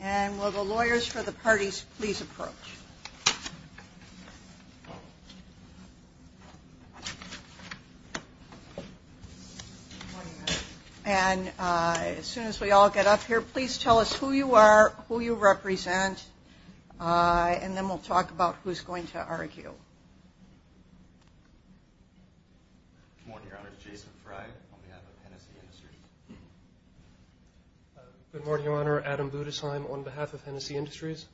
And will the lawyers for the parties please approach. And as soon as we all get up here, please tell us who you are, who you represent, and then we'll talk about who's going to argue. Good morning, Your Honor. Jason Fry, on behalf of Hennessy Industries. Good morning, Your Honor. Adam Budesheim, on behalf of Hennessy Industries.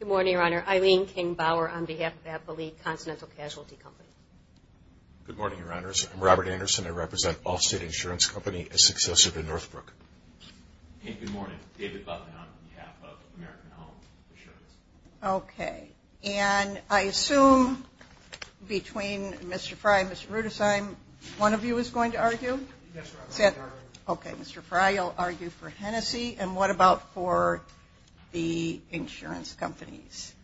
Good morning, Your Honor. Eileen King-Bauer, on behalf of Apple League Continental Casualty Company. Good morning, Your Honors. I'm Robert Anderson. I represent Allstate Insurance Company, a successor to Northbrook. And good morning. David Butler, on behalf of American Home Insurance. Okay. And I assume between Mr. Fry and Mr. Budesheim, one of you is going to argue? Yes, Your Honor. Okay. Mr. Fry will argue for Hennessy. And what about for the insurance companies?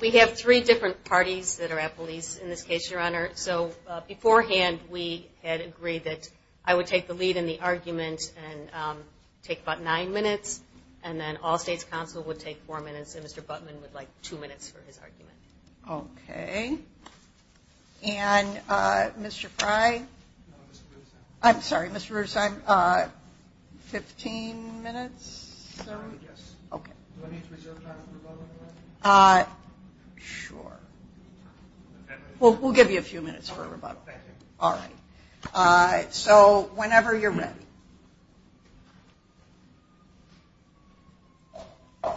We have three different parties that are Apple Leagues in this case, Your Honor. So beforehand, we had agreed that I would take the lead in the argument and take about nine minutes, and then Allstate's counsel would take four minutes, and Mr. Buttman would like two minutes for his argument. Okay. And Mr. Fry? No, Mr. Budesheim. I'm sorry, Mr. Budesheim. Fifteen minutes, sir? I guess. Okay. Do I need to reserve time for a moment, Your Honor? Sure. We'll give you a few minutes for a rebuttal. Thank you. All right. So whenever you're ready.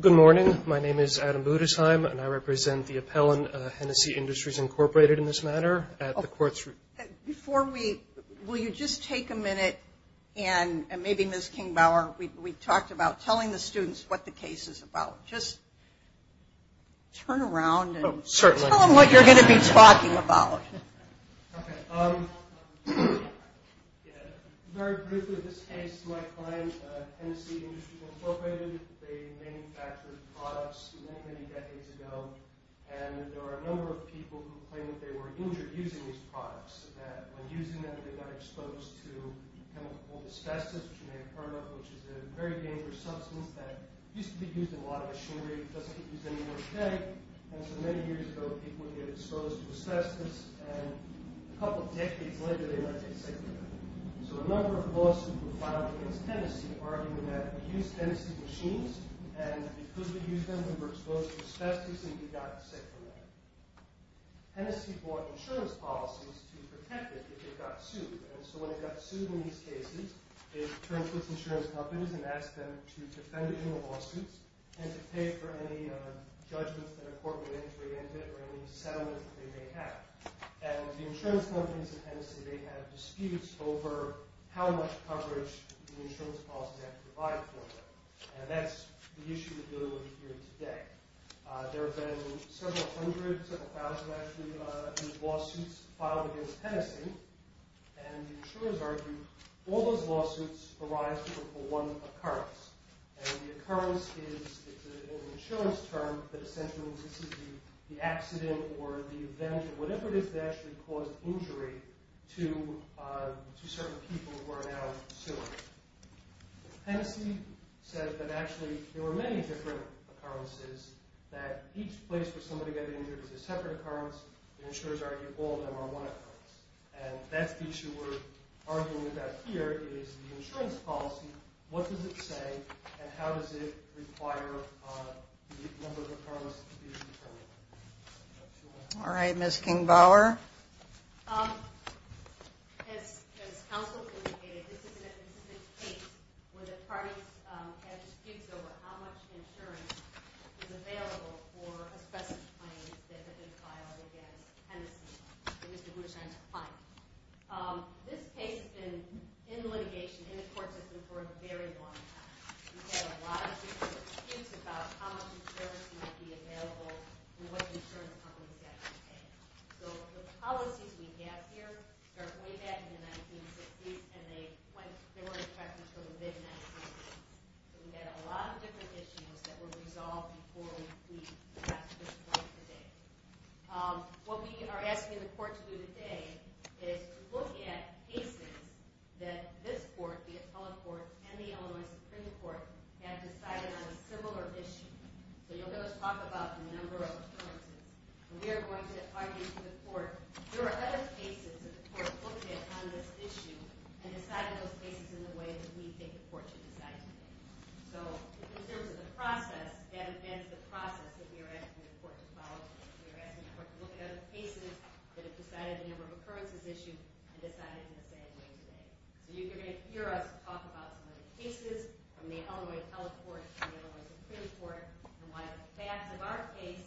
Good morning. My name is Adam Budesheim, and I represent the appellant, Hennessy Industries Incorporated in this matter, at the court's review. Before we – will you just take a minute, and maybe, Ms. Kingbauer, we talked about telling the students what the case is about. Just turn around and tell them what you're going to be talking about. Okay. Very briefly, this case, my client, Hennessy Industries Incorporated, they manufactured products many, many decades ago, and there are a number of people who claim that they were injured using these products, that when using them, they got exposed to chemical asbestos, which you may have heard of, which is a very dangerous substance that used to be used in a lot of machinery. It doesn't get used anymore today, and so many years ago, people would get exposed to asbestos, and a couple decades later, they might get sick from that. So a number of lawsuits were filed against Hennessy, arguing that we used Hennessy machines, and because we used them, we were exposed to asbestos, and we got sick from that. Hennessy bought insurance policies to protect it if it got sued, and so when it got sued in these cases, it turned to its insurance companies and asked them to defend it in the lawsuits, and to pay for any judgments that a court would have to reinvent or any settlement that they may have. And the insurance companies in Hennessy, they had disputes over how much coverage the insurance policies had to provide for them, and that's the issue we're dealing with here today. There have been several hundred, several thousand, actually, lawsuits filed against Hennessy, and the insurers argue all those lawsuits arise from one occurrence, and the occurrence is an insurance term that essentially is the accident or the event or whatever it is that actually caused injury to certain people who are now suing. Hennessy says that actually there were many different occurrences, that each place where somebody got injured is a separate occurrence, and the insurers argue all of them are one occurrence. And that's the issue we're arguing about here is the insurance policy, what does it say, and how does it require the number of occurrences to be determined. All right, Ms. Kingbauer? As counsel indicated, this is a case where the parties had disputes over how much insurance was available for a specific claim that had been filed against Hennessy. It was the Bouchant Claim. This case has been in litigation in the court system for a very long time. We've had a lot of disputes about how much insurance might be available and what insurance companies have to pay. So the policies we have here start way back in the 1960s, and they weren't effective until the mid-1960s. We had a lot of different issues that were resolved before we passed this point today. What we are asking the court to do today is to look at cases that this court, the Appellate Court and the Illinois Supreme Court, have decided on a similar issue. So you'll hear us talk about the number of occurrences, and we are going to argue to the court, there are other cases that the court looked at on this issue and decided those cases in the way that we think the court should decide today. So in terms of the process, that has been the process that we are asking the court to follow. We are asking the court to look at other cases that have decided the number of occurrences issued and decided in the same way today. You're going to hear us talk about cases from the Illinois Appellate Court and the Illinois Supreme Court and why the facts of our case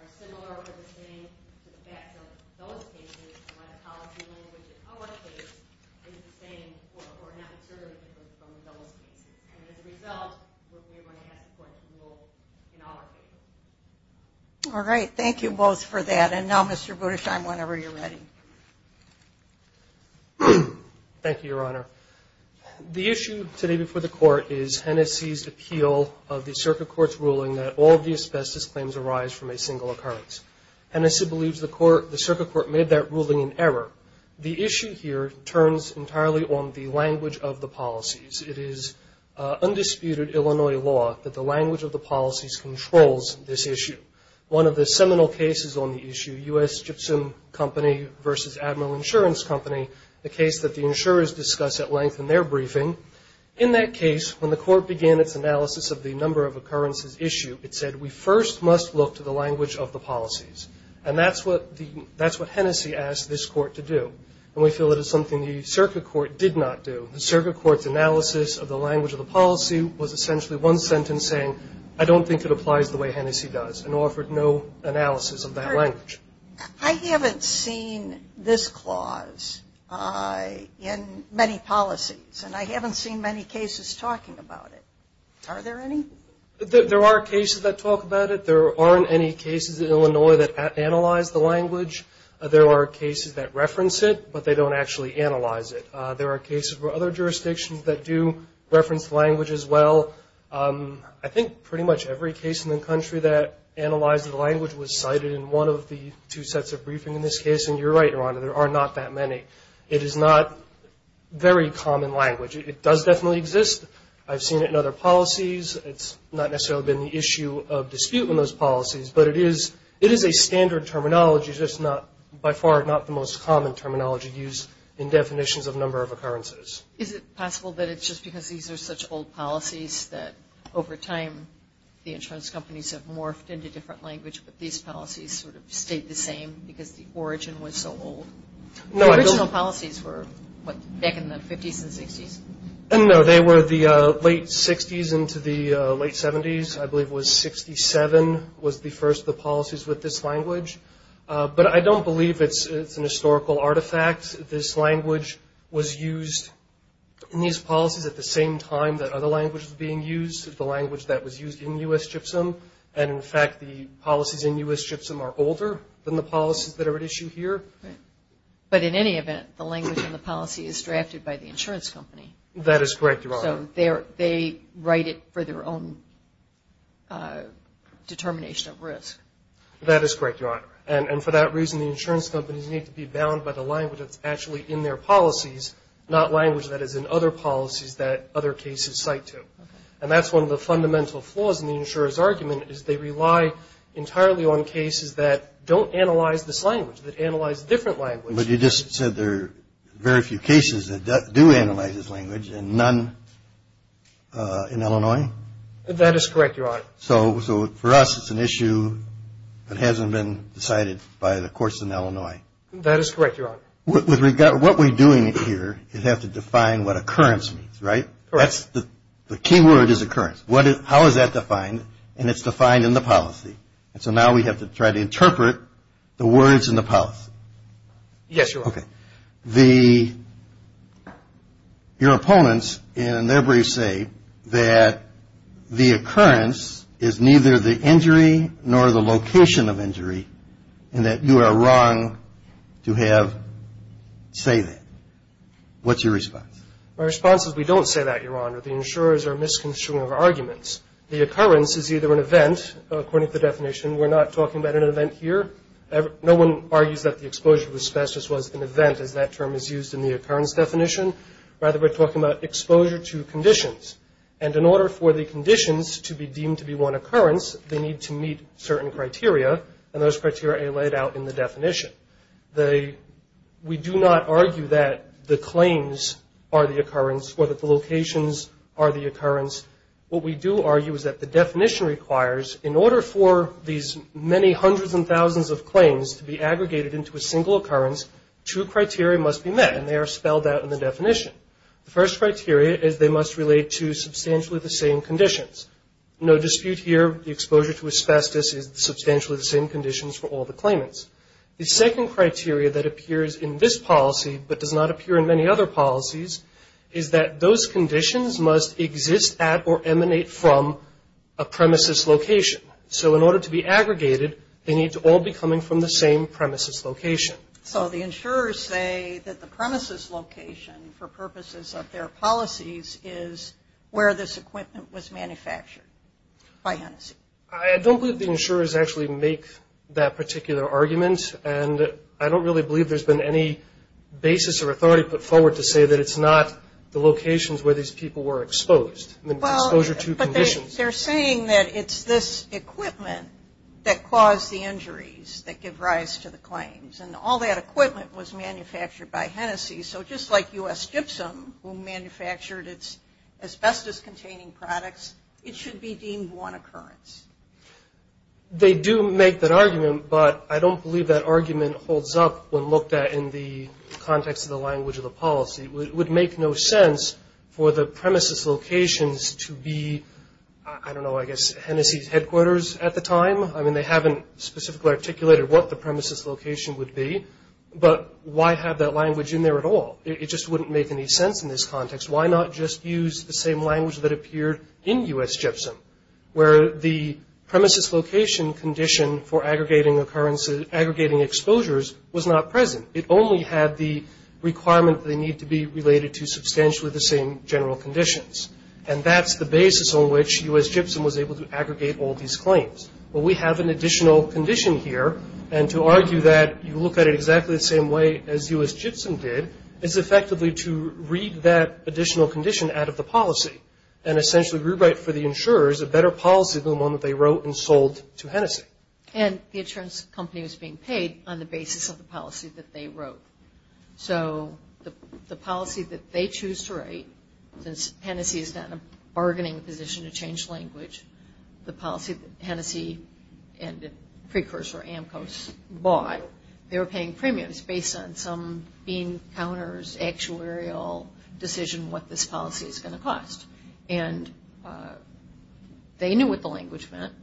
are similar or the same to the facts of those cases and what apology language in our case is the same or not discernible from those cases. And as a result, we are going to ask the court to rule in all our cases. All right. Thank you both for that. And now, Mr. Budesheim, whenever you're ready. Thank you, Your Honor. The issue today before the court is Hennessey's appeal of the circuit court's ruling that all of the asbestos claims arise from a single occurrence. Hennessey believes the circuit court made that ruling in error. The issue here turns entirely on the language of the policies. It is undisputed Illinois law that the language of the policies controls this issue. One of the seminal cases on the issue, U.S. Gypsum Company versus Admiral Insurance Company, the case that the insurers discuss at length in their briefing, in that case when the court began its analysis of the number of occurrences issue, it said we first must look to the language of the policies. And that's what Hennessey asked this court to do. And we feel it is something the circuit court did not do. The circuit court's analysis of the language of the policy was essentially one sentence saying, I don't think it applies the way Hennessey does, and offered no analysis of that language. I haven't seen this clause in many policies, and I haven't seen many cases talking about it. Are there any? There are cases that talk about it. There aren't any cases in Illinois that analyze the language. There are cases that reference it, but they don't actually analyze it. There are cases for other jurisdictions that do reference the language as well. I think pretty much every case in the country that analyzed the language was cited in one of the two sets of briefing in this case, and you're right, Your Honor, there are not that many. It is not very common language. It does definitely exist. I've seen it in other policies. It's not necessarily been the issue of dispute in those policies, but it is a standard terminology, just by far not the most common terminology used in definitions of number of occurrences. Is it possible that it's just because these are such old policies that, over time, the insurance companies have morphed into different language, but these policies sort of stayed the same because the origin was so old? The original policies were, what, back in the 50s and 60s? No, they were the late 60s into the late 70s. I believe it was 67 was the first of the policies with this language. But I don't believe it's an historical artifact. This language was used in these policies at the same time that other languages were being used, the language that was used in U.S. CHPSOM, and, in fact, the policies in U.S. CHPSOM are older than the policies that are at issue here. But in any event, the language in the policy is drafted by the insurance company. That is correct, Your Honor. So they write it for their own determination of risk. That is correct, Your Honor. And for that reason, the insurance companies need to be bound by the language that's actually in their policies, not language that is in other policies that other cases cite to. And that's one of the fundamental flaws in the insurer's argument, is they rely entirely on cases that don't analyze this language, that analyze different languages. But you just said there are very few cases that do analyze this language and none in Illinois. That is correct, Your Honor. So for us, it's an issue that hasn't been decided by the courts in Illinois. That is correct, Your Honor. What we're doing here is have to define what occurrence means, right? Correct. The key word is occurrence. How is that defined? And it's defined in the policy. And so now we have to try to interpret the words in the policy. Yes, Your Honor. Okay. Your opponents in their briefs say that the occurrence is neither the injury nor the location of injury and that you are wrong to say that. What's your response? My response is we don't say that, Your Honor. The insurers are misconstruing our arguments. The occurrence is either an event, according to the definition. We're not talking about an event here. No one argues that the exposure to asbestos was an event, as that term is used in the occurrence definition. Rather, we're talking about exposure to conditions. And in order for the conditions to be deemed to be one occurrence, they need to meet certain criteria, and those criteria are laid out in the definition. We do not argue that the claims are the occurrence or that the locations are the occurrence. What we do argue is that the definition requires, in order for these many hundreds and thousands of claims to be aggregated into a single occurrence, two criteria must be met, and they are spelled out in the definition. The first criteria is they must relate to substantially the same conditions. No dispute here. The exposure to asbestos is substantially the same conditions for all the claimants. The second criteria that appears in this policy but does not appear in many other policies is that those conditions must exist at or emanate from a premises location. So in order to be aggregated, they need to all be coming from the same premises location. So the insurers say that the premises location, for purposes of their policies, is where this equipment was manufactured by Hennessey. I don't believe the insurers actually make that particular argument, and I don't really believe there's been any basis or authority put forward to say that it's not the locations where these people were exposed, the exposure to conditions. They're saying that it's this equipment that caused the injuries that give rise to the claims, and all that equipment was manufactured by Hennessey. So just like U.S. Gypsum, who manufactured its asbestos-containing products, it should be deemed one occurrence. They do make that argument, but I don't believe that argument holds up when looked at in the context of the language of the policy. It would make no sense for the premises locations to be, I don't know, I guess Hennessey's headquarters at the time. I mean, they haven't specifically articulated what the premises location would be, but why have that language in there at all? It just wouldn't make any sense in this context. Why not just use the same language that appeared in U.S. Gypsum, where the premises location condition for aggregating exposures was not present? It only had the requirement that they need to be related to substantially the same general conditions, and that's the basis on which U.S. Gypsum was able to aggregate all these claims. Well, we have an additional condition here, and to argue that you look at it exactly the same way as U.S. Gypsum did is effectively to read that additional condition out of the policy and essentially rewrite for the insurers a better policy than the one that they wrote and sold to Hennessey. And the insurance company was being paid on the basis of the policy that they wrote. So the policy that they choose to write, since Hennessey is not in a bargaining position to change language, the policy that Hennessey and the precursor, AMCO, bought, they were paying premiums based on some bean counters, actuarial decision, what this policy is going to cost. And they knew what the language meant,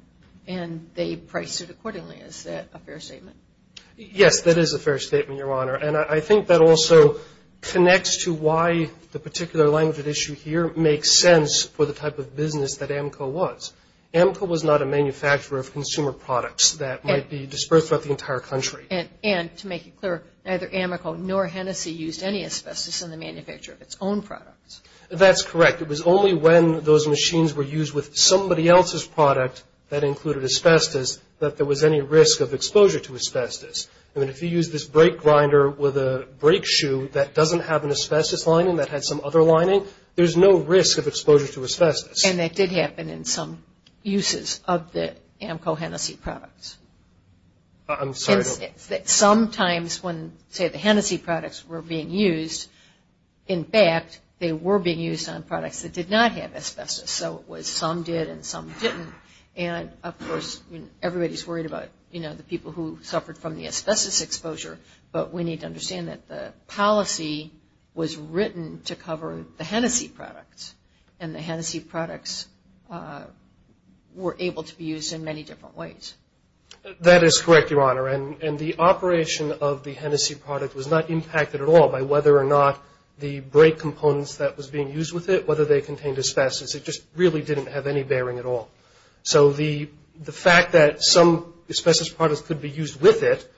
and they priced it accordingly. Is that a fair statement? Yes, that is a fair statement, Your Honor. And I think that also connects to why the particular language at issue here makes sense for the type of business that AMCO was. AMCO was not a manufacturer of consumer products that might be dispersed throughout the entire country. And to make it clear, neither AMCO nor Hennessey used any asbestos in the manufacture of its own products. That's correct. It was only when those machines were used with somebody else's product that included asbestos that there was any risk of exposure to asbestos. I mean, if you use this brake grinder with a brake shoe that doesn't have an asbestos lining that had some other lining, there's no risk of exposure to asbestos. And that did happen in some uses of the AMCO Hennessey products. I'm sorry. Sometimes when, say, the Hennessey products were being used, in fact they were being used on products that did not have asbestos. So it was some did and some didn't. And, of course, everybody's worried about, you know, the people who suffered from the asbestos exposure, but we need to understand that the policy was written to cover the Hennessey products, and the Hennessey products were able to be used in many different ways. That is correct, Your Honor. And the operation of the Hennessey product was not impacted at all by whether or not the brake components that was being used with it, whether they contained asbestos. It just really didn't have any bearing at all. So the fact that some asbestos products could be used with it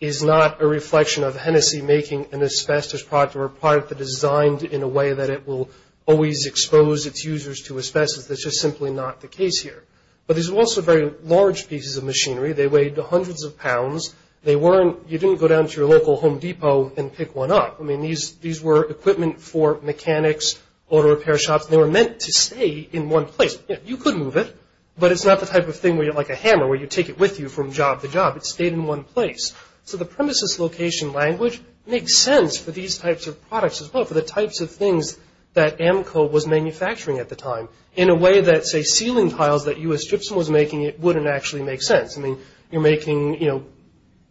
is not a reflection of Hennessey making an asbestos product or a product that is designed in a way that it will always expose its users to asbestos. That's just simply not the case here. But these were also very large pieces of machinery. They weighed hundreds of pounds. You didn't go down to your local Home Depot and pick one up. I mean, these were equipment for mechanics, auto repair shops. They were meant to stay in one place. You could move it, but it's not the type of thing like a hammer where you take it with you from job to job. It stayed in one place. So the premises location language makes sense for these types of products as well, for the types of things that AMCO was manufacturing at the time, in a way that, say, ceiling tiles that U.S. Gypsum was making wouldn't actually make sense. I mean, you're making, you know,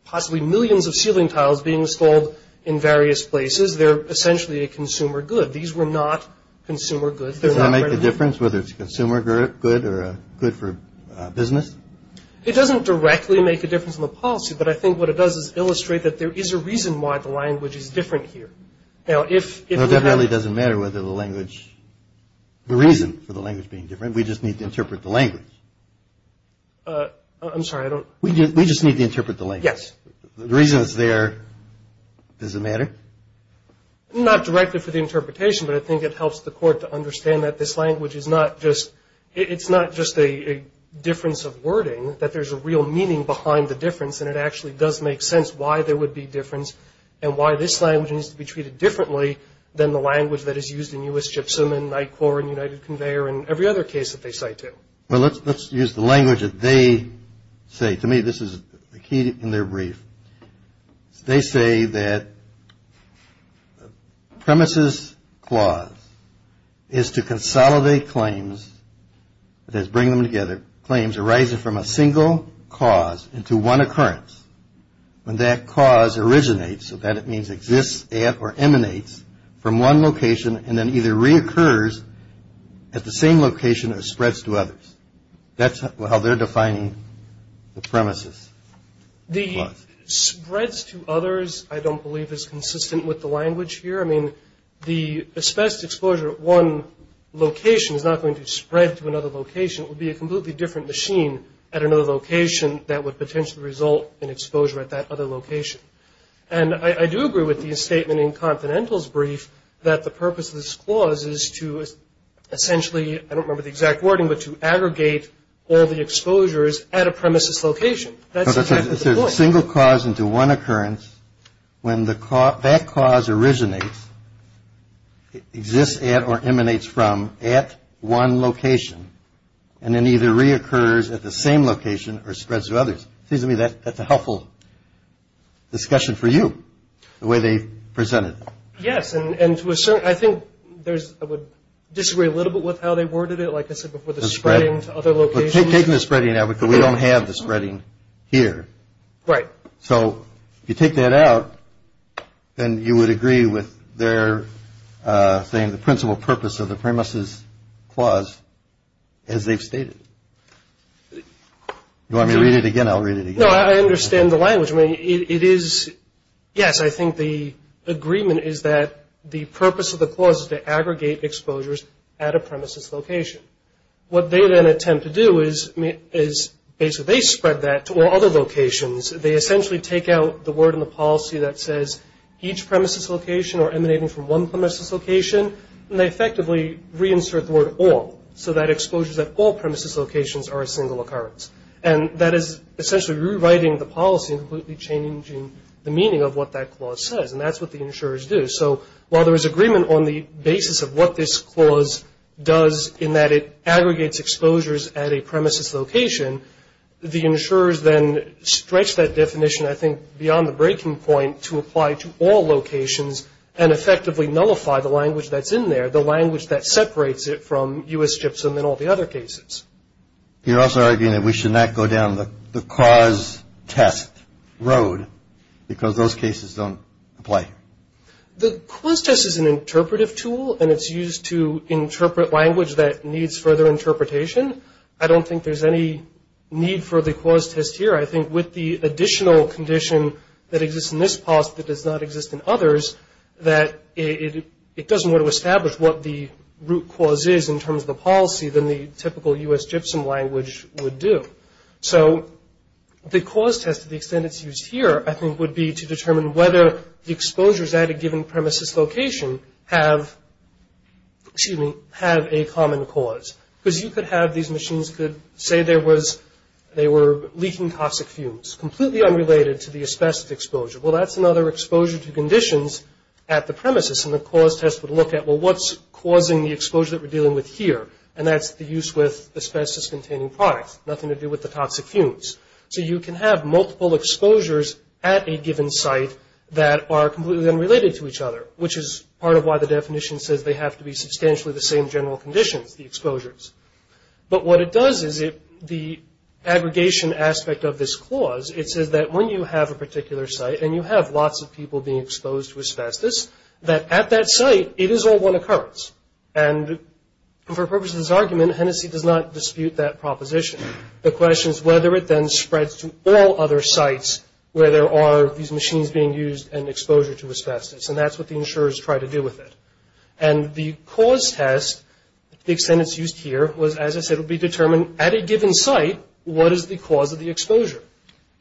possibly millions of ceiling tiles being installed in various places. They're essentially a consumer good. These were not consumer goods. Does that make a difference, whether it's a consumer good or a good for business? It doesn't directly make a difference in the policy, but I think what it does is illustrate that there is a reason why the language is different here. Now, if we have a- It really doesn't matter whether the language, the reason for the language being different. We just need to interpret the language. I'm sorry, I don't- We just need to interpret the language. Yes. The reason it's there, does it matter? Not directly for the interpretation, but I think it helps the court to understand that this language is not just- it's not just a difference of wording, that there's a real meaning behind the difference, and it actually does make sense why there would be difference and why this language needs to be treated differently than the language that is used in U.S. Gypsum and NICOR and United Conveyor and every other case that they cite, too. Well, let's use the language that they say. To me, this is the key in their brief. They say that premises clause is to consolidate claims, that is, bring them together, claims arising from a single cause into one occurrence. When that cause originates, so that means exists at or emanates from one location and then either reoccurs at the same location or spreads to others. That's how they're defining the premises clause. The spreads to others, I don't believe, is consistent with the language here. I mean, the espoused exposure at one location is not going to spread to another location. It would be a completely different machine at another location that would potentially result in exposure at that other location. And I do agree with the statement in Confidential's brief that the purpose of this clause is to essentially, I don't remember the exact wording, but to aggregate all the exposures at a premises location. That's exactly the point. So it's a single cause into one occurrence. When that cause originates, it exists at or emanates from at one location and then either reoccurs at the same location or spreads to others. It seems to me that's a helpful discussion for you, the way they presented it. Yes, and to a certain, I think there's, I would disagree a little bit with how they worded it. Like I said before, the spreading to other locations. We're taking the spreading out because we don't have the spreading here. Right. So if you take that out, then you would agree with their saying the principal purpose of the premises clause as they've stated. Do you want me to read it again? I'll read it again. No, I understand the language. I mean, it is, yes, I think the agreement is that the purpose of the clause is to aggregate exposures at a premises location. What they then attempt to do is basically they spread that to all other locations. They essentially take out the word in the policy that says each premises location or emanating from one premises location, and they effectively reinsert the word all so that exposures at all premises locations are a single occurrence. And that is essentially rewriting the policy and completely changing the meaning of what that clause says, and that's what the insurers do. So while there is agreement on the basis of what this clause does in that it aggregates exposures at a premises location, the insurers then stretch that definition, I think, beyond the breaking point to apply to all locations and effectively nullify the language that's in there, the language that separates it from U.S. Gibson and all the other cases. You're also arguing that we should not go down the cause test road because those cases don't apply. The cause test is an interpretive tool, and it's used to interpret language that needs further interpretation. I don't think there's any need for the cause test here. I think with the additional condition that exists in this policy that does not exist in others, that it doesn't want to establish what the root cause is in terms of the policy than the typical U.S. Gibson language would do. So the cause test to the extent it's used here, I think, would be to determine whether the exposures at a given premises location have a common cause. Because you could have these machines could say they were leaking toxic fumes, completely unrelated to the asbestos exposure. Well, that's another exposure to conditions at the premises, and the cause test would look at, well, what's causing the exposure that we're dealing with here, and that's the use with asbestos-containing products, nothing to do with the toxic fumes. So you can have multiple exposures at a given site that are completely unrelated to each other, which is part of why the definition says they have to be substantially the same general conditions, the exposures. But what it does is the aggregation aspect of this clause, it says that when you have a particular site and you have lots of people being exposed to asbestos, that at that site it is all one occurrence. And for purposes of this argument, Hennessey does not dispute that proposition. The question is whether it then spreads to all other sites where there are these machines being used and exposure to asbestos, and that's what the insurers try to do with it. And the cause test to the extent it's used here was, as I said, will be determined at a given site what is the cause of the exposure.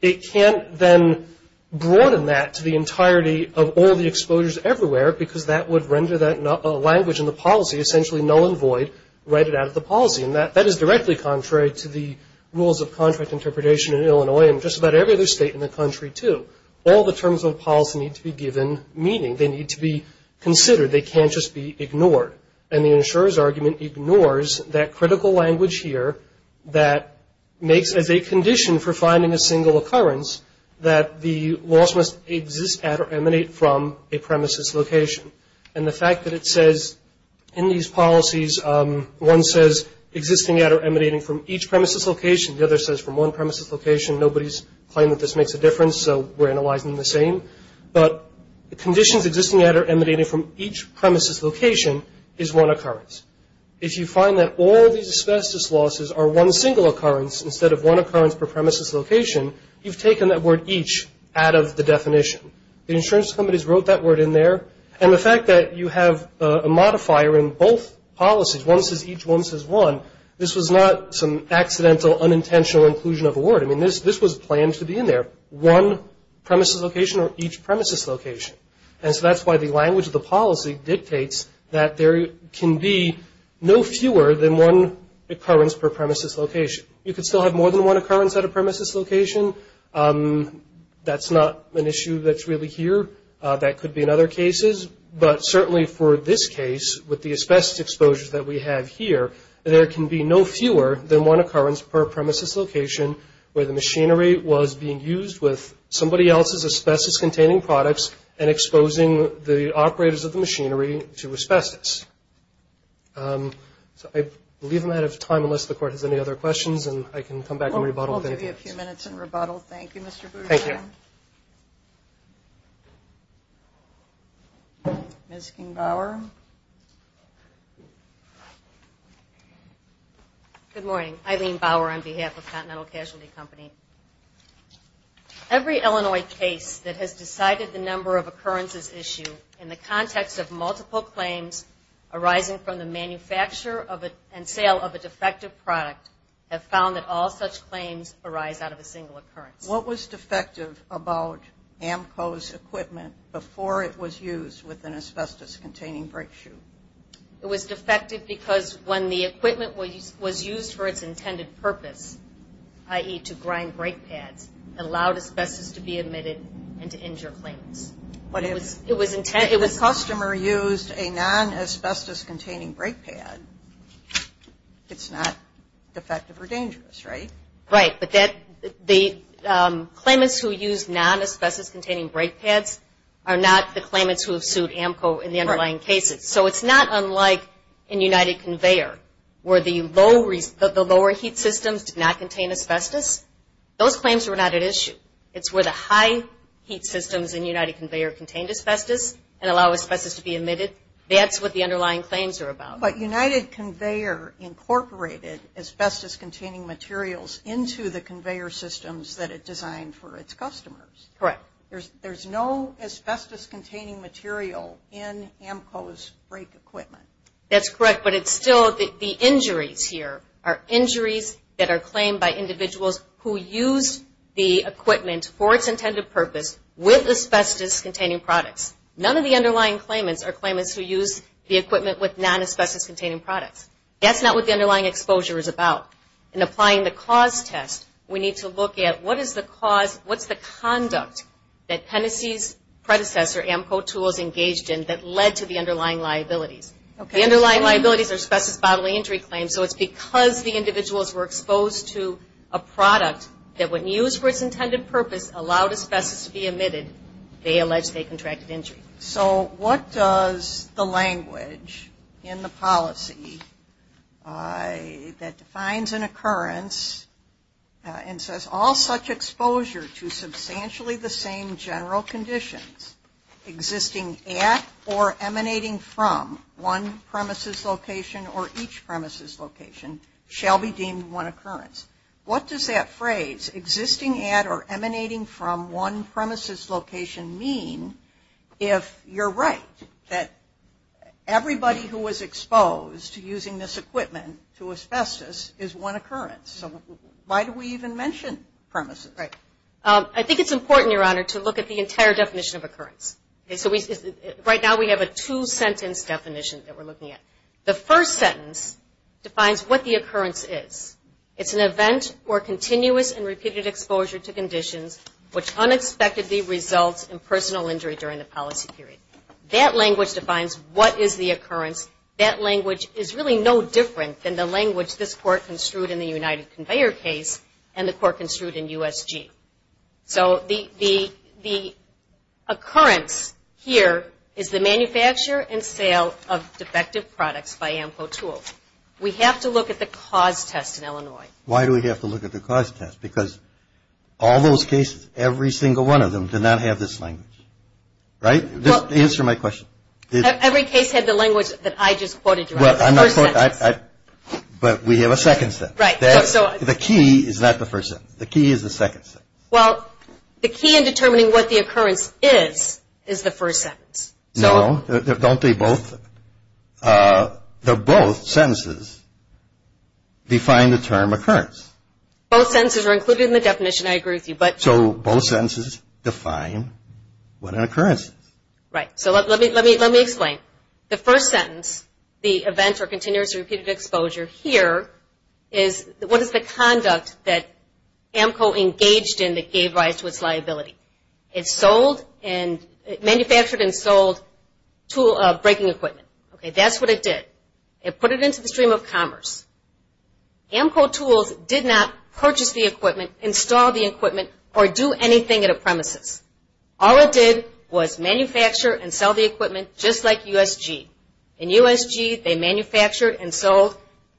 It can't then broaden that to the entirety of all the exposures everywhere, because that would render that language in the policy essentially null and void, write it out of the policy. And that is directly contrary to the rules of contract interpretation in Illinois and just about every other state in the country, too. All the terms of the policy need to be given meaning. They need to be considered. They can't just be ignored. And the insurer's argument ignores that critical language here that makes as a condition for finding a single occurrence that the loss must exist at or emanate from a premises location. And the fact that it says in these policies, one says existing at or emanating from each premises location, the other says from one premises location, nobody's claimed that this makes a difference, so we're analyzing the same. But the conditions existing at or emanating from each premises location is one occurrence. If you find that all these asbestos losses are one single occurrence instead of one occurrence per premises location, you've taken that word each out of the definition. The insurance companies wrote that word in there. And the fact that you have a modifier in both policies, one says each, one says one, this was not some accidental unintentional inclusion of a word. I mean, this was planned to be in there, one premises location or each premises location. And so that's why the language of the policy dictates that there can be no fewer than one occurrence per premises location. You could still have more than one occurrence at a premises location. That's not an issue that's really here. That could be in other cases. But certainly for this case, with the asbestos exposures that we have here, there can be no fewer than one occurrence per premises location where the machinery was being used with somebody else's asbestos-containing products and exposing the operators of the machinery to asbestos. So I believe I'm out of time unless the Court has any other questions, and I can come back and rebuttal. We'll give you a few minutes and rebuttal. Thank you, Mr. Boudreaux. Thank you. Ms. King-Bauer. Good morning. Eileen Bauer on behalf of Continental Casualty Company. Every Illinois case that has decided the number of occurrences issued in the context of multiple claims arising from the manufacture and sale of a defective product have found that all such claims arise out of a single occurrence. What was defective about AMCO's equipment before it was used with an asbestos-containing brake shoe? It was defective because when the equipment was used for its intended purpose, i.e., to grind brake pads, it allowed asbestos to be emitted and to injure claimants. But if the customer used a non-asbestos-containing brake pad, it's not defective or dangerous, right? Right. But the claimants who used non-asbestos-containing brake pads are not the claimants who have sued AMCO in the underlying cases. So it's not unlike in United Conveyor where the lower heat systems did not contain asbestos. Those claims were not at issue. It's where the high heat systems in United Conveyor contained asbestos and allow asbestos to be emitted. That's what the underlying claims are about. But United Conveyor incorporated asbestos-containing materials into the conveyor systems that it designed for its customers. Correct. There's no asbestos-containing material in AMCO's brake equipment. That's correct. But it's still the injuries here are injuries that are claimed by individuals who used the equipment for its intended purpose with asbestos-containing products. None of the underlying claimants are claimants who used the equipment with non-asbestos-containing products. That's not what the underlying exposure is about. In applying the cause test, we need to look at what is the cause, what's the conduct that Tennessee's predecessor, AMCO Tools, engaged in that led to the underlying liabilities. The underlying liabilities are asbestos bodily injury claims. So it's because the individuals were exposed to a product that when used for its intended purpose, allowed asbestos to be emitted, they allege they contracted injury. So what does the language in the policy that defines an occurrence and says, all such exposure to substantially the same general conditions existing at or emanating from one premises location or each premises location shall be deemed one occurrence. What does that phrase, existing at or emanating from one premises location, mean if you're right that everybody who was exposed to using this equipment to asbestos is one occurrence? So why do we even mention premises? Right. I think it's important, Your Honor, to look at the entire definition of occurrence. Right now we have a two-sentence definition that we're looking at. The first sentence defines what the occurrence is. It's an event or continuous and repeated exposure to conditions which unexpectedly results in personal injury during the policy period. That language defines what is the occurrence. That language is really no different than the language this Court construed in the United Conveyor case and the Court construed in USG. So the occurrence here is the manufacture and sale of defective products by AMCO Tools. We have to look at the cause test in Illinois. Why do we have to look at the cause test? Because all those cases, every single one of them did not have this language, right? Just answer my question. Every case had the language that I just quoted, Your Honor, the first sentence. But we have a second sentence. Right. The key is not the first sentence. The key is the second sentence. Well, the key in determining what the occurrence is is the first sentence. No. Don't they both? They both sentences define the term occurrence. Both sentences are included in the definition. I agree with you. So both sentences define what an occurrence is. Right. So let me explain. The first sentence, the event or continuous or repeated exposure here, is what is the conduct that AMCO engaged in that gave rise to its liability? It manufactured and sold breaking equipment. That's what it did. It put it into the stream of commerce. AMCO Tools did not purchase the equipment, install the equipment, or do anything at a premises. All it did was manufacture and sell the equipment just like USG. In USG, they manufactured and sold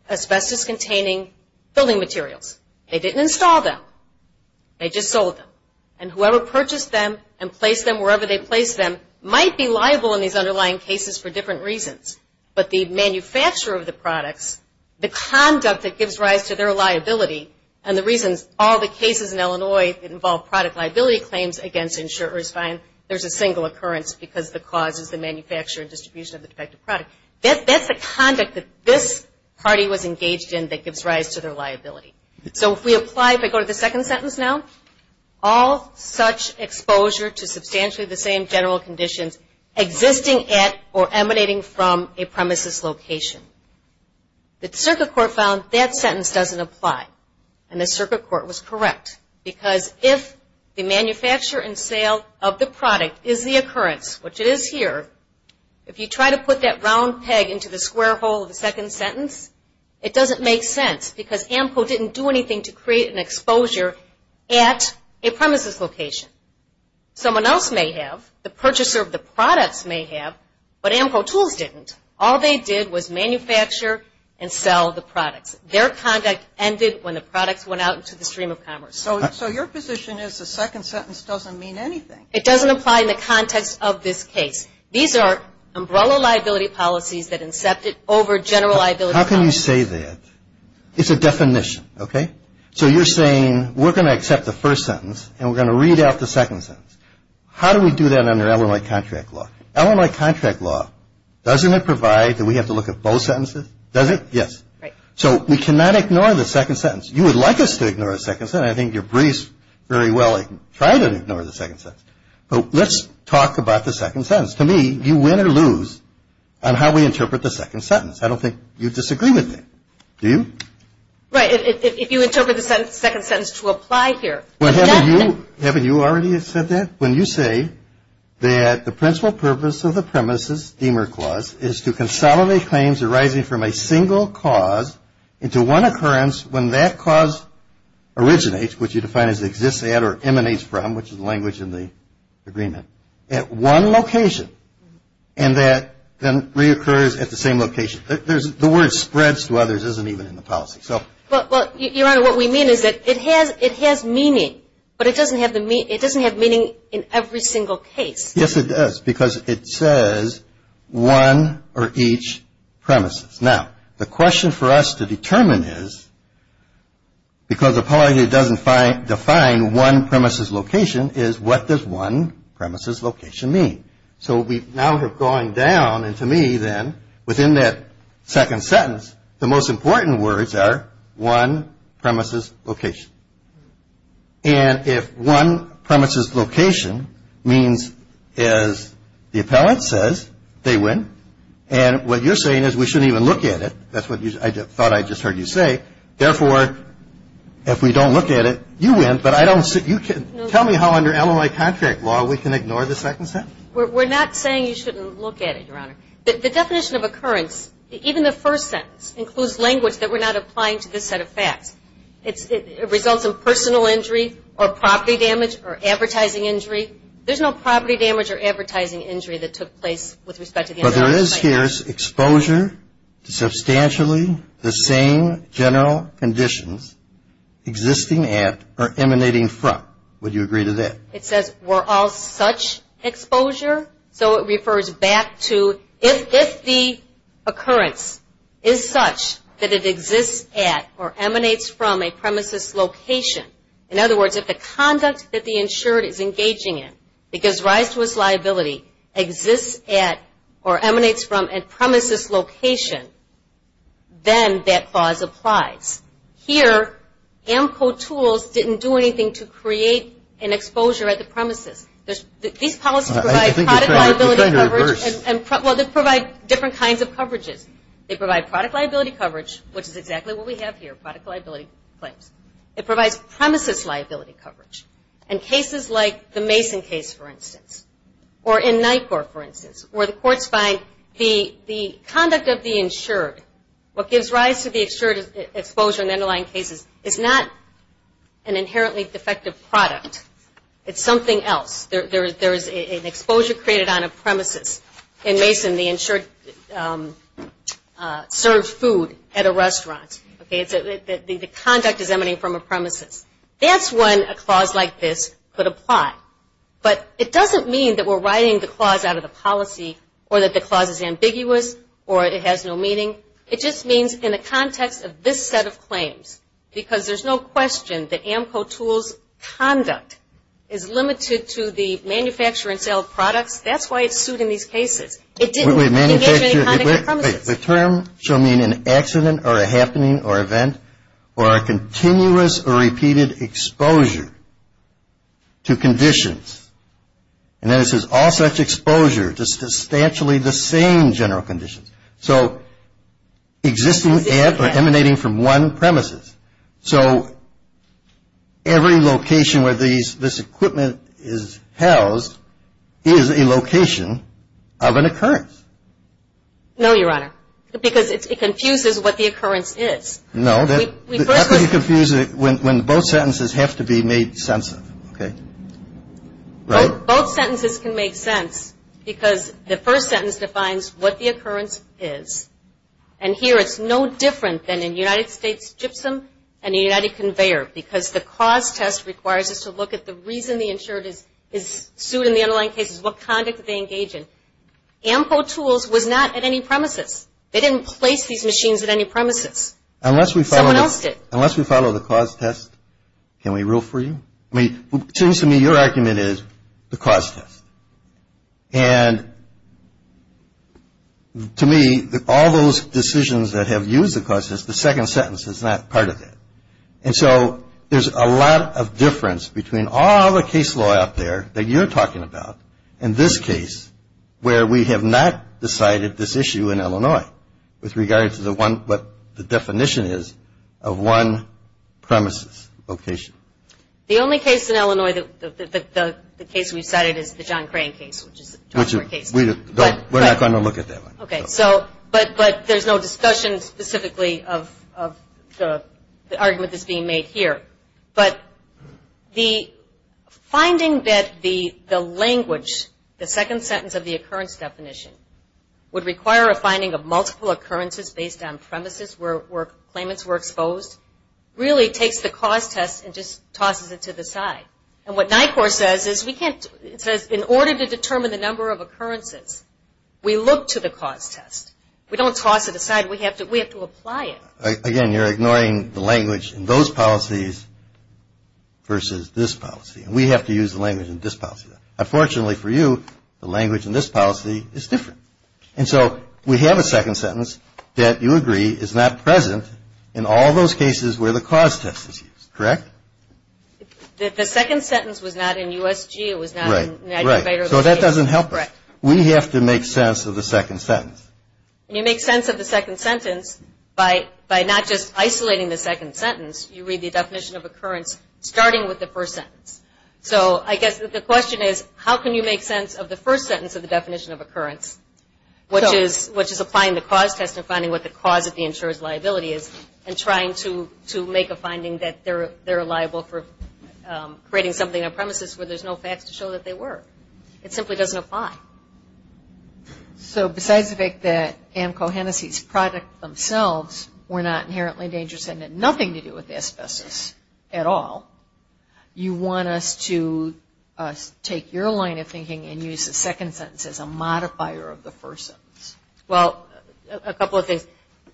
asbestos-containing building materials. They didn't install them. They just sold them. And whoever purchased them and placed them wherever they placed them might be liable in these underlying cases for different reasons. But the manufacturer of the products, the conduct that gives rise to their liability, and the reasons all the cases in Illinois involve product liability claims against insurers find there's a single occurrence because the cause is the manufacture and distribution of the defective product. That's the conduct that this party was engaged in that gives rise to their liability. So if we apply, if I go to the second sentence now, all such exposure to substantially the same general conditions existing at or emanating from a premises location. The circuit court found that sentence doesn't apply. And the circuit court was correct because if the manufacture and sale of the product is the occurrence, which it is here, if you try to put that round peg into the square hole of the second sentence, it doesn't make sense because AMCO didn't do anything to create an exposure at a premises location. Someone else may have. The purchaser of the products may have. But AMCO tools didn't. All they did was manufacture and sell the products. Their conduct ended when the products went out into the stream of commerce. So your position is the second sentence doesn't mean anything. It doesn't apply in the context of this case. These are umbrella liability policies that incepted over general liability. How can you say that? It's a definition. Okay? So you're saying we're going to accept the first sentence and we're going to read out the second sentence. How do we do that under LMI contract law? LMI contract law, doesn't it provide that we have to look at both sentences? Does it? Yes. Right. So we cannot ignore the second sentence. You would like us to ignore the second sentence. I think you're briefed very well. Try to ignore the second sentence. But let's talk about the second sentence. To me, you win or lose on how we interpret the second sentence. I don't think you disagree with that. Do you? Right. If you interpret the second sentence to apply here. Haven't you already said that? When you say that the principal purpose of the premises, Deamer Clause, is to consolidate claims arising from a single cause into one occurrence when that cause originates, which you define as exists at or emanates from, which is the language in the agreement, at one location, and that then reoccurs at the same location. The word spreads to others isn't even in the policy. Your Honor, what we mean is that it has meaning, but it doesn't have meaning in every single case. Yes, it does, because it says one or each premises. Now, the question for us to determine is, because the policy doesn't define one premises location, is what does one premises location mean? So we now have gone down, and to me then, within that second sentence, the most important words are one premises location. And if one premises location means, as the appellant says, they win, and what you're saying is we shouldn't even look at it. That's what I thought I just heard you say. Therefore, if we don't look at it, you win, but I don't see you can. Tell me how under LOI contract law we can ignore the second sentence. We're not saying you shouldn't look at it, Your Honor. The definition of occurrence, even the first sentence, includes language that we're not applying to this set of facts. It results in personal injury or property damage or advertising injury. There's no property damage or advertising injury that took place with respect to the entire site. But there is here exposure to substantially the same general conditions existing at or emanating from. Would you agree to that? It says we're all such exposure, so it refers back to if the occurrence is such that it exists at or emanates from a premises location. In other words, if the conduct that the insured is engaging in, it gives rise to its liability, exists at or emanates from a premises location, then that clause applies. Here, AMCO tools didn't do anything to create an exposure at the premises. These policies provide product liability coverage. Well, they provide different kinds of coverages. They provide product liability coverage, which is exactly what we have here, product liability claims. It provides premises liability coverage. In cases like the Mason case, for instance, or in NICOR, for instance, where the courts find the conduct of the insured, what gives rise to the exposure in underlying cases is not an inherently defective product. It's something else. There is an exposure created on a premises. In Mason, the insured serves food at a restaurant. The conduct is emanating from a premises. That's when a clause like this could apply. But it doesn't mean that we're writing the clause out of the policy or that the clause is ambiguous or it has no meaning. It just means in the context of this set of claims, because there's no question that AMCO tools' conduct is limited to the manufacture and sale of products, that's why it's sued in these cases. Wait, wait, wait. The term shall mean an accident or a happening or event or a continuous or repeated exposure to conditions. And then it says all such exposure to substantially the same general conditions. So existing at or emanating from one premises. So every location where this equipment is housed is a location of an occurrence. No, Your Honor, because it confuses what the occurrence is. No. How can you confuse it when both sentences have to be made sense of, okay? Right? Both sentences can make sense because the first sentence defines what the occurrence is. And here it's no different than in United States gypsum and the United Conveyor because the cause test requires us to look at the reason the insured is sued in the underlying cases, what conduct did they engage in. AMCO tools was not at any premises. They didn't place these machines at any premises. Someone else did. Unless we follow the cause test, can we rule for you? I mean, it seems to me your argument is the cause test. And to me, all those decisions that have used the cause test, the second sentence is not part of it. And so there's a lot of difference between all the case law out there that you're talking about and this case where we have not decided this issue in Illinois with regard to what the definition is of one premises location. The only case in Illinois that the case we've cited is the John Crane case. We're not going to look at that one. Okay. But there's no discussion specifically of the argument that's being made here. But the finding that the language, the second sentence of the occurrence definition, would require a finding of multiple occurrences based on premises where claimants were exposed, really takes the cause test and just tosses it to the side. And what NICOR says is we can't, it says in order to determine the number of occurrences, we look to the cause test. We don't toss it aside. We have to apply it. Again, you're ignoring the language in those policies versus this policy. And we have to use the language in this policy. Unfortunately for you, the language in this policy is different. And so we have a second sentence that, you agree, is not present in all those cases where the cause test is used. Correct? The second sentence was not in USG. It was not in NICOR. Right. So that doesn't help us. We have to make sense of the second sentence. You make sense of the second sentence by not just isolating the second sentence. You read the definition of occurrence starting with the first sentence. So I guess the question is, how can you make sense of the first sentence of the definition of occurrence, which is applying the cause test and finding what the cause of the insurer's liability is and trying to make a finding that they're liable for creating something on premises where there's no facts to show that they were. It simply doesn't apply. So besides the fact that AMCO Hennessy's product themselves were not inherently dangerous and had nothing to do with asbestos at all, you want us to take your line of thinking and use the second sentence as a modifier of the first sentence. Well, a couple of things.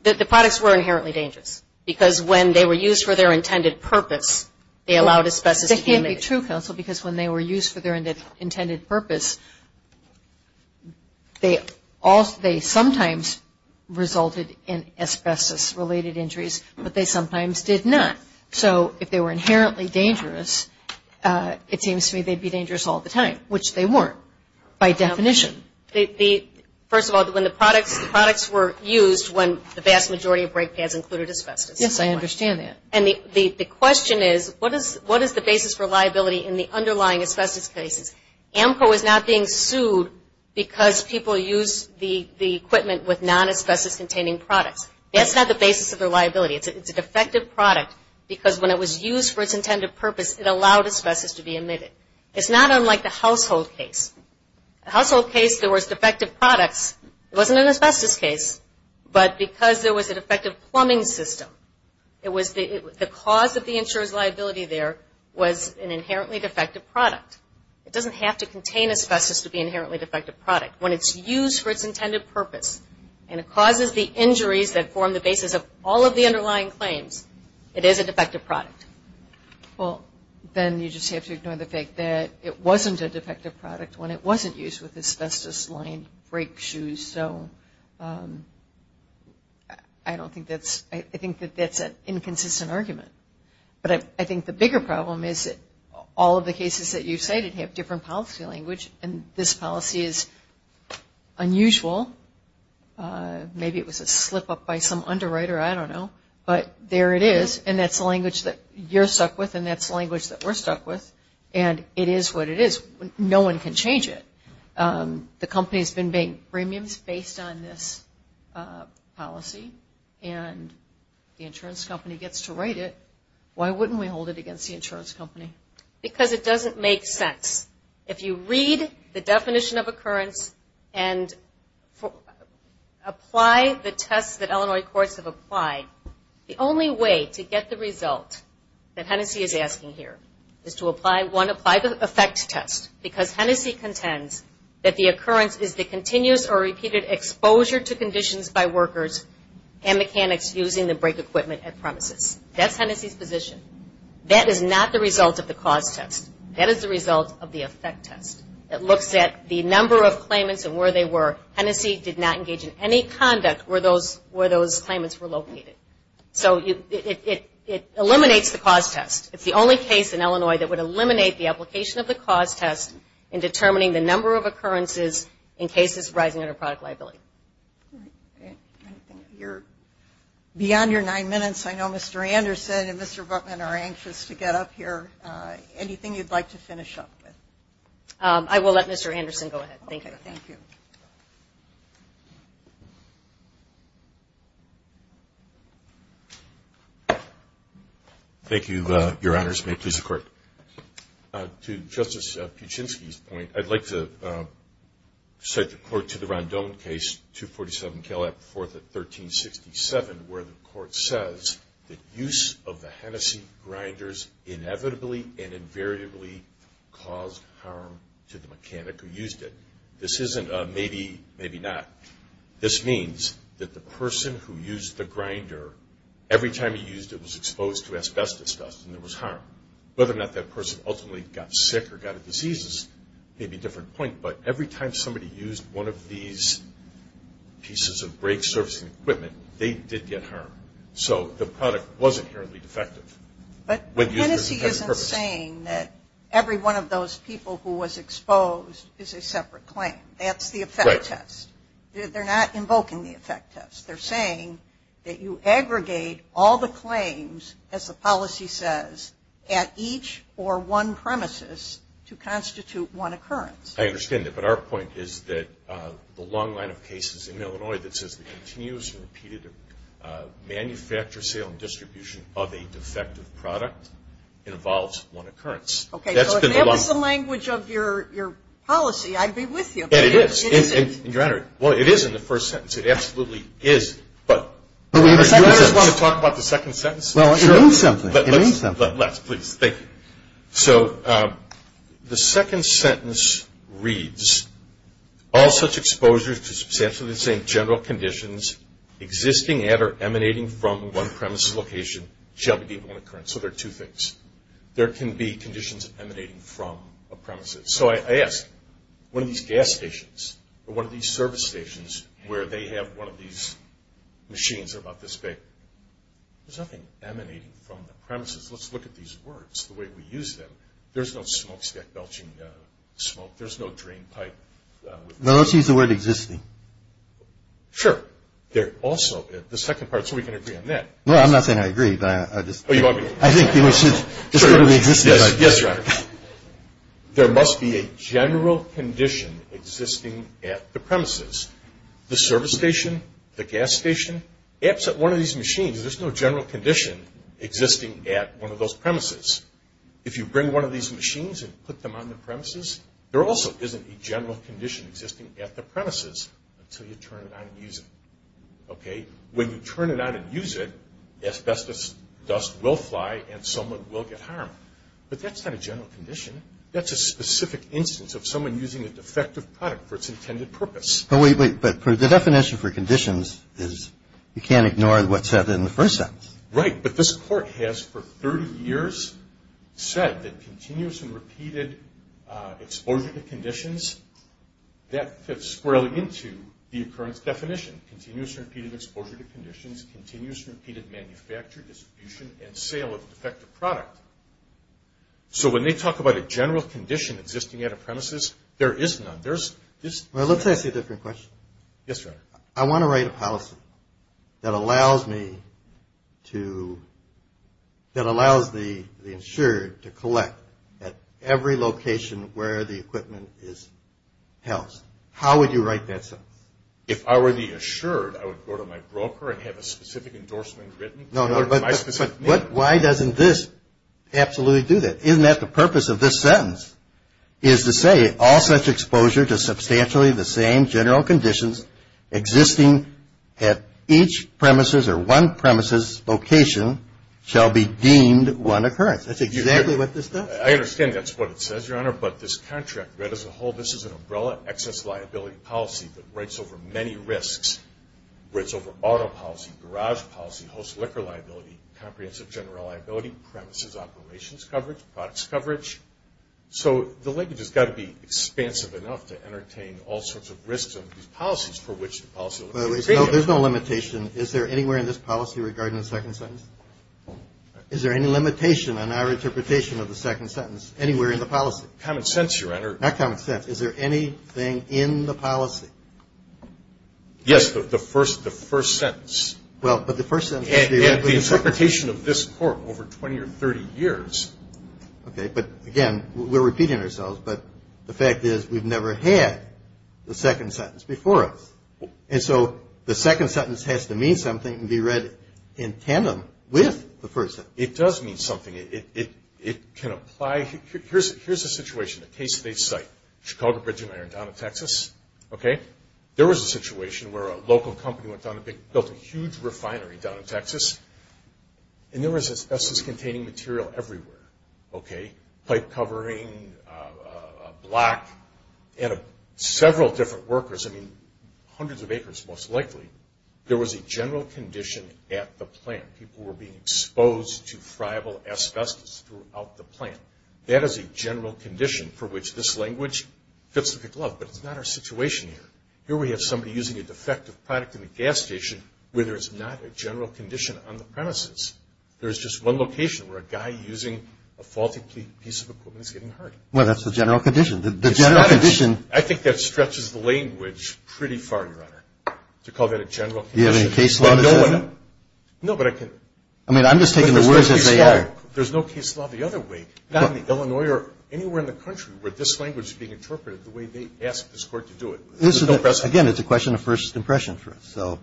The products were inherently dangerous because when they were used for their intended purpose, they allowed asbestos to be emitted. That can't be true, counsel, because when they were used for their intended purpose, they sometimes resulted in asbestos-related injuries, but they sometimes did not. So if they were inherently dangerous, it seems to me they'd be dangerous all the time, which they weren't by definition. First of all, the products were used when the vast majority of brake pads included asbestos. Yes, I understand that. And the question is, what is the basis for liability in the underlying asbestos cases? AMCO is not being sued because people use the equipment with non-asbestos-containing products. That's not the basis of their liability. It's a defective product because when it was used for its intended purpose, it allowed asbestos to be emitted. It's not unlike the household case. The household case, there was defective products. It wasn't an asbestos case, but because there was a defective plumbing system, the cause of the insurer's liability there was an inherently defective product. It doesn't have to contain asbestos to be an inherently defective product. When it's used for its intended purpose and it causes the injuries that form the basis of all of the underlying claims, it is a defective product. Well, then you just have to ignore the fact that it wasn't a defective product when it wasn't used with asbestos-lined brake shoes. So I don't think that's – I think that that's an inconsistent argument. But I think the bigger problem is that all of the cases that you've cited have different policy language, and this policy is unusual. Maybe it was a slip-up by some underwriter, I don't know. But there it is, and that's the language that you're stuck with, and that's the language that we're stuck with. And it is what it is. No one can change it. The company has been paying premiums based on this policy, and the insurance company gets to write it. Why wouldn't we hold it against the insurance company? Because it doesn't make sense. If you read the definition of occurrence and apply the tests that Illinois courts have applied, the only way to get the result that Hennessey is asking here is to, one, apply the effect test, because Hennessey contends that the occurrence is the continuous or repeated exposure to conditions by workers and mechanics using the brake equipment at premises. That's Hennessey's position. That is not the result of the cause test. That is the result of the effect test. It looks at the number of claimants and where they were. Hennessey did not engage in any conduct where those claimants were located. So it eliminates the cause test. It's the only case in Illinois that would eliminate the application of the cause test in determining the number of occurrences in cases rising under product liability. Beyond your nine minutes, I know Mr. Anderson and Mr. Bookman are anxious to get up here. Anything you'd like to finish up with? I will let Mr. Anderson go ahead. Thank you. Thank you. Thank you, Your Honors. May it please the Court. To Justice Pichinsky's point, I'd like to cite the court to the Rondon case 247, Caleb IV at 1367, where the court says that use of the Hennessey grinders inevitably and invariably caused harm to the mechanic who used it. This isn't a maybe, maybe not. This means that the person who used the grinder, every time he used it was exposed to asbestos dust and there was harm. Whether or not that person ultimately got sick or got a disease is maybe a different point, but every time somebody used one of these pieces of brake servicing equipment, they did get harm. So the product was inherently defective. But Hennessey isn't saying that every one of those people who was exposed is a separate claim. That's the effect test. They're not invoking the effect test. They're saying that you aggregate all the claims, as the policy says, at each or one premises to constitute one occurrence. I understand that, but our point is that the long line of cases in Illinois that says the continuous and repeated manufacture, sale, and distribution of a defective product involves one occurrence. Okay, so if that was the language of your policy, I'd be with you. It is. Your Honor, well, it is in the first sentence. It absolutely is. But do you want to talk about the second sentence? It means something. Let's, please. Thank you. So the second sentence reads, all such exposures to substantially the same general conditions existing at or emanating from one premises location shall be deemed one occurrence. So there are two things. There can be conditions emanating from a premises. So I ask, one of these gas stations or one of these service stations where they have one of these machines, they're about this big, there's nothing emanating from the premises. Let's look at these words, the way we use them. There's no smokestack belching smoke. There's no drainpipe. No, let's use the word existing. Sure. There also, the second part, so we can agree on that. No, I'm not saying I agree, but I just. Oh, you want me to? I think we should. Sure. Yes, Your Honor. There must be a general condition existing at the premises. The service station, the gas station, one of these machines, there's no general condition existing at one of those premises. If you bring one of these machines and put them on the premises, there also isn't a general condition existing at the premises until you turn it on and use it. Okay? When you turn it on and use it, asbestos dust will fly and someone will get harmed. But that's not a general condition. That's a specific instance of someone using a defective product for its intended purpose. But the definition for conditions is you can't ignore what's said in the first sentence. Right. But this Court has for 30 years said that continuous and repeated exposure to conditions, that fits squarely into the occurrence definition. Continuous and repeated exposure to conditions, continuous and repeated manufacture, distribution, and sale of a defective product. So when they talk about a general condition existing at a premises, there is none. Well, let's ask you a different question. Yes, Your Honor. I want to write a policy that allows the insured to collect at every location where the equipment is housed. How would you write that sentence? If I were the insured, I would go to my broker and have a specific endorsement written. No, no, but why doesn't this absolutely do that? Isn't that the purpose of this sentence is to say all such exposure to substantially the same general conditions existing at each premises or one premises location shall be deemed one occurrence. That's exactly what this does. I understand that's what it says, Your Honor, but this contract read as a whole, this is an umbrella excess liability policy that writes over many risks, writes over auto policy, garage policy, host liquor liability, comprehensive general liability, premises operations coverage, products coverage. So the language has got to be expansive enough to entertain all sorts of risks of these policies for which the policy. There's no limitation. Is there anywhere in this policy regarding the second sentence? Is there any limitation on our interpretation of the second sentence anywhere in the policy? Common sense, Your Honor. Not common sense. Is there anything in the policy? Yes, the first sentence. Well, but the first sentence. And the interpretation of this court over 20 or 30 years. Okay. But, again, we're repeating ourselves, but the fact is we've never had the second sentence before us. And so the second sentence has to mean something and be read in tandem with the first sentence. It does mean something. It can apply. Here's a situation, a case at a site, Chicago Bridge and Iron down in Texas, okay? There was a situation where a local company went down and built a huge refinery down in Texas, and there was asbestos-containing material everywhere, okay? Pipe covering, block, and several different workers, I mean, hundreds of acres most likely, there was a general condition at the plant. People were being exposed to friable asbestos throughout the plant. That is a general condition for which this language fits with the glove. But it's not our situation here. Here we have somebody using a defective product in the gas station where there's not a general condition on the premises. There's just one location where a guy using a faulty piece of equipment is getting hurt. Well, that's the general condition. The general condition. I think that stretches the language pretty far, Your Honor, to call that a general condition. Do you have any case law to that? No, but I can. I mean, I'm just taking the words as they are. There's no case law the other way, not in Illinois or anywhere in the country where this language is being interpreted the way they asked this court to do it. Again, it's a question of first impression for us. So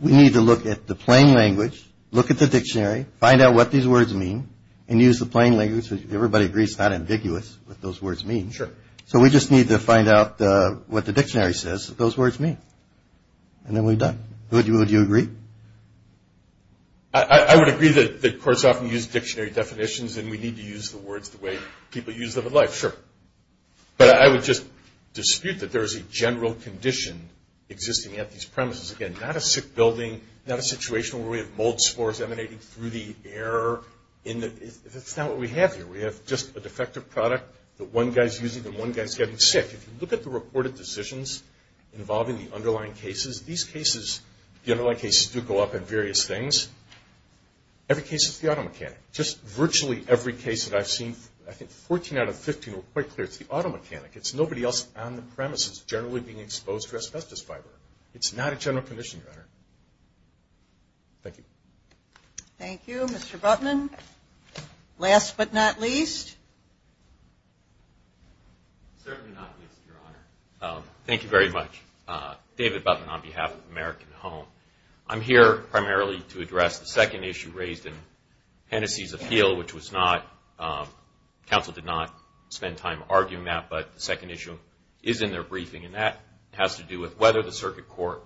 we need to look at the plain language, look at the dictionary, find out what these words mean, and use the plain language. Everybody agrees it's not ambiguous what those words mean. Sure. So we just need to find out what the dictionary says that those words mean. And then we're done. Would you agree? I would agree that courts often use dictionary definitions and we need to use the words the way people use them in life. Sure. But I would just dispute that there is a general condition existing at these premises. Again, not a sick building, not a situation where we have mold spores emanating through the air. That's not what we have here. We have just a defective product that one guy's using and one guy's getting sick. If you look at the reported decisions involving the underlying cases, these cases, the underlying cases do go up in various things. Every case is the auto mechanic. Just virtually every case that I've seen, I think 14 out of 15 were quite clear, it's the auto mechanic. It's nobody else on the premises generally being exposed to asbestos fiber. It's not a general condition, Your Honor. Thank you. Thank you. Mr. Butman, last but not least. Certainly not least, Your Honor. Thank you very much. David Butman on behalf of American Home. I'm here primarily to address the second issue raised in Hennessey's appeal, which was not, counsel did not spend time arguing that, but the second issue is in their briefing, and that has to do with whether the circuit court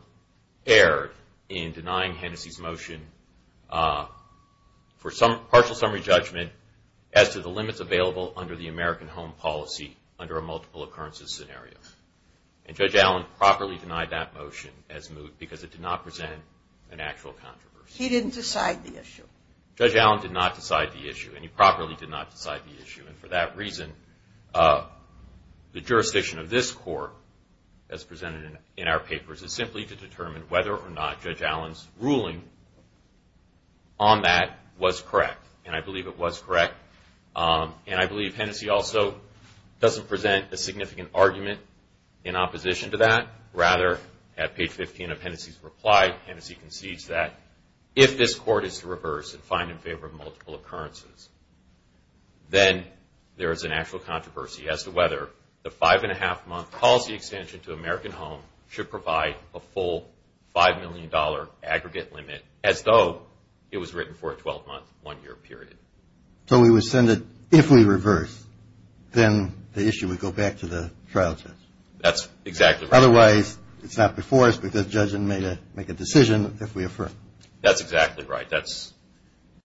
erred in denying Hennessey's motion for partial summary judgment as to the limits available under the American Home policy under a multiple occurrences scenario. And Judge Allen properly denied that motion as moot because it did not present an actual controversy. He didn't decide the issue. Judge Allen did not decide the issue, and he properly did not decide the issue. And for that reason, the jurisdiction of this court, as presented in our papers, is simply to determine whether or not Judge Allen's ruling on that was correct. And I believe it was correct. And I believe Hennessey also doesn't present a significant argument in opposition to that. Rather, at page 15 of Hennessey's reply, Hennessey concedes that, if this court is to reverse and find in favor of multiple occurrences, then there is an actual controversy as to whether the five-and-a-half-month policy extension to American Home should provide a full $5 million aggregate limit as though it was written for a 12-month, one-year period. So we would send it if we reverse. Then the issue would go back to the trial judge. That's exactly right. Otherwise, it's not before us, but the judge can make a decision if we affirm. That's exactly right.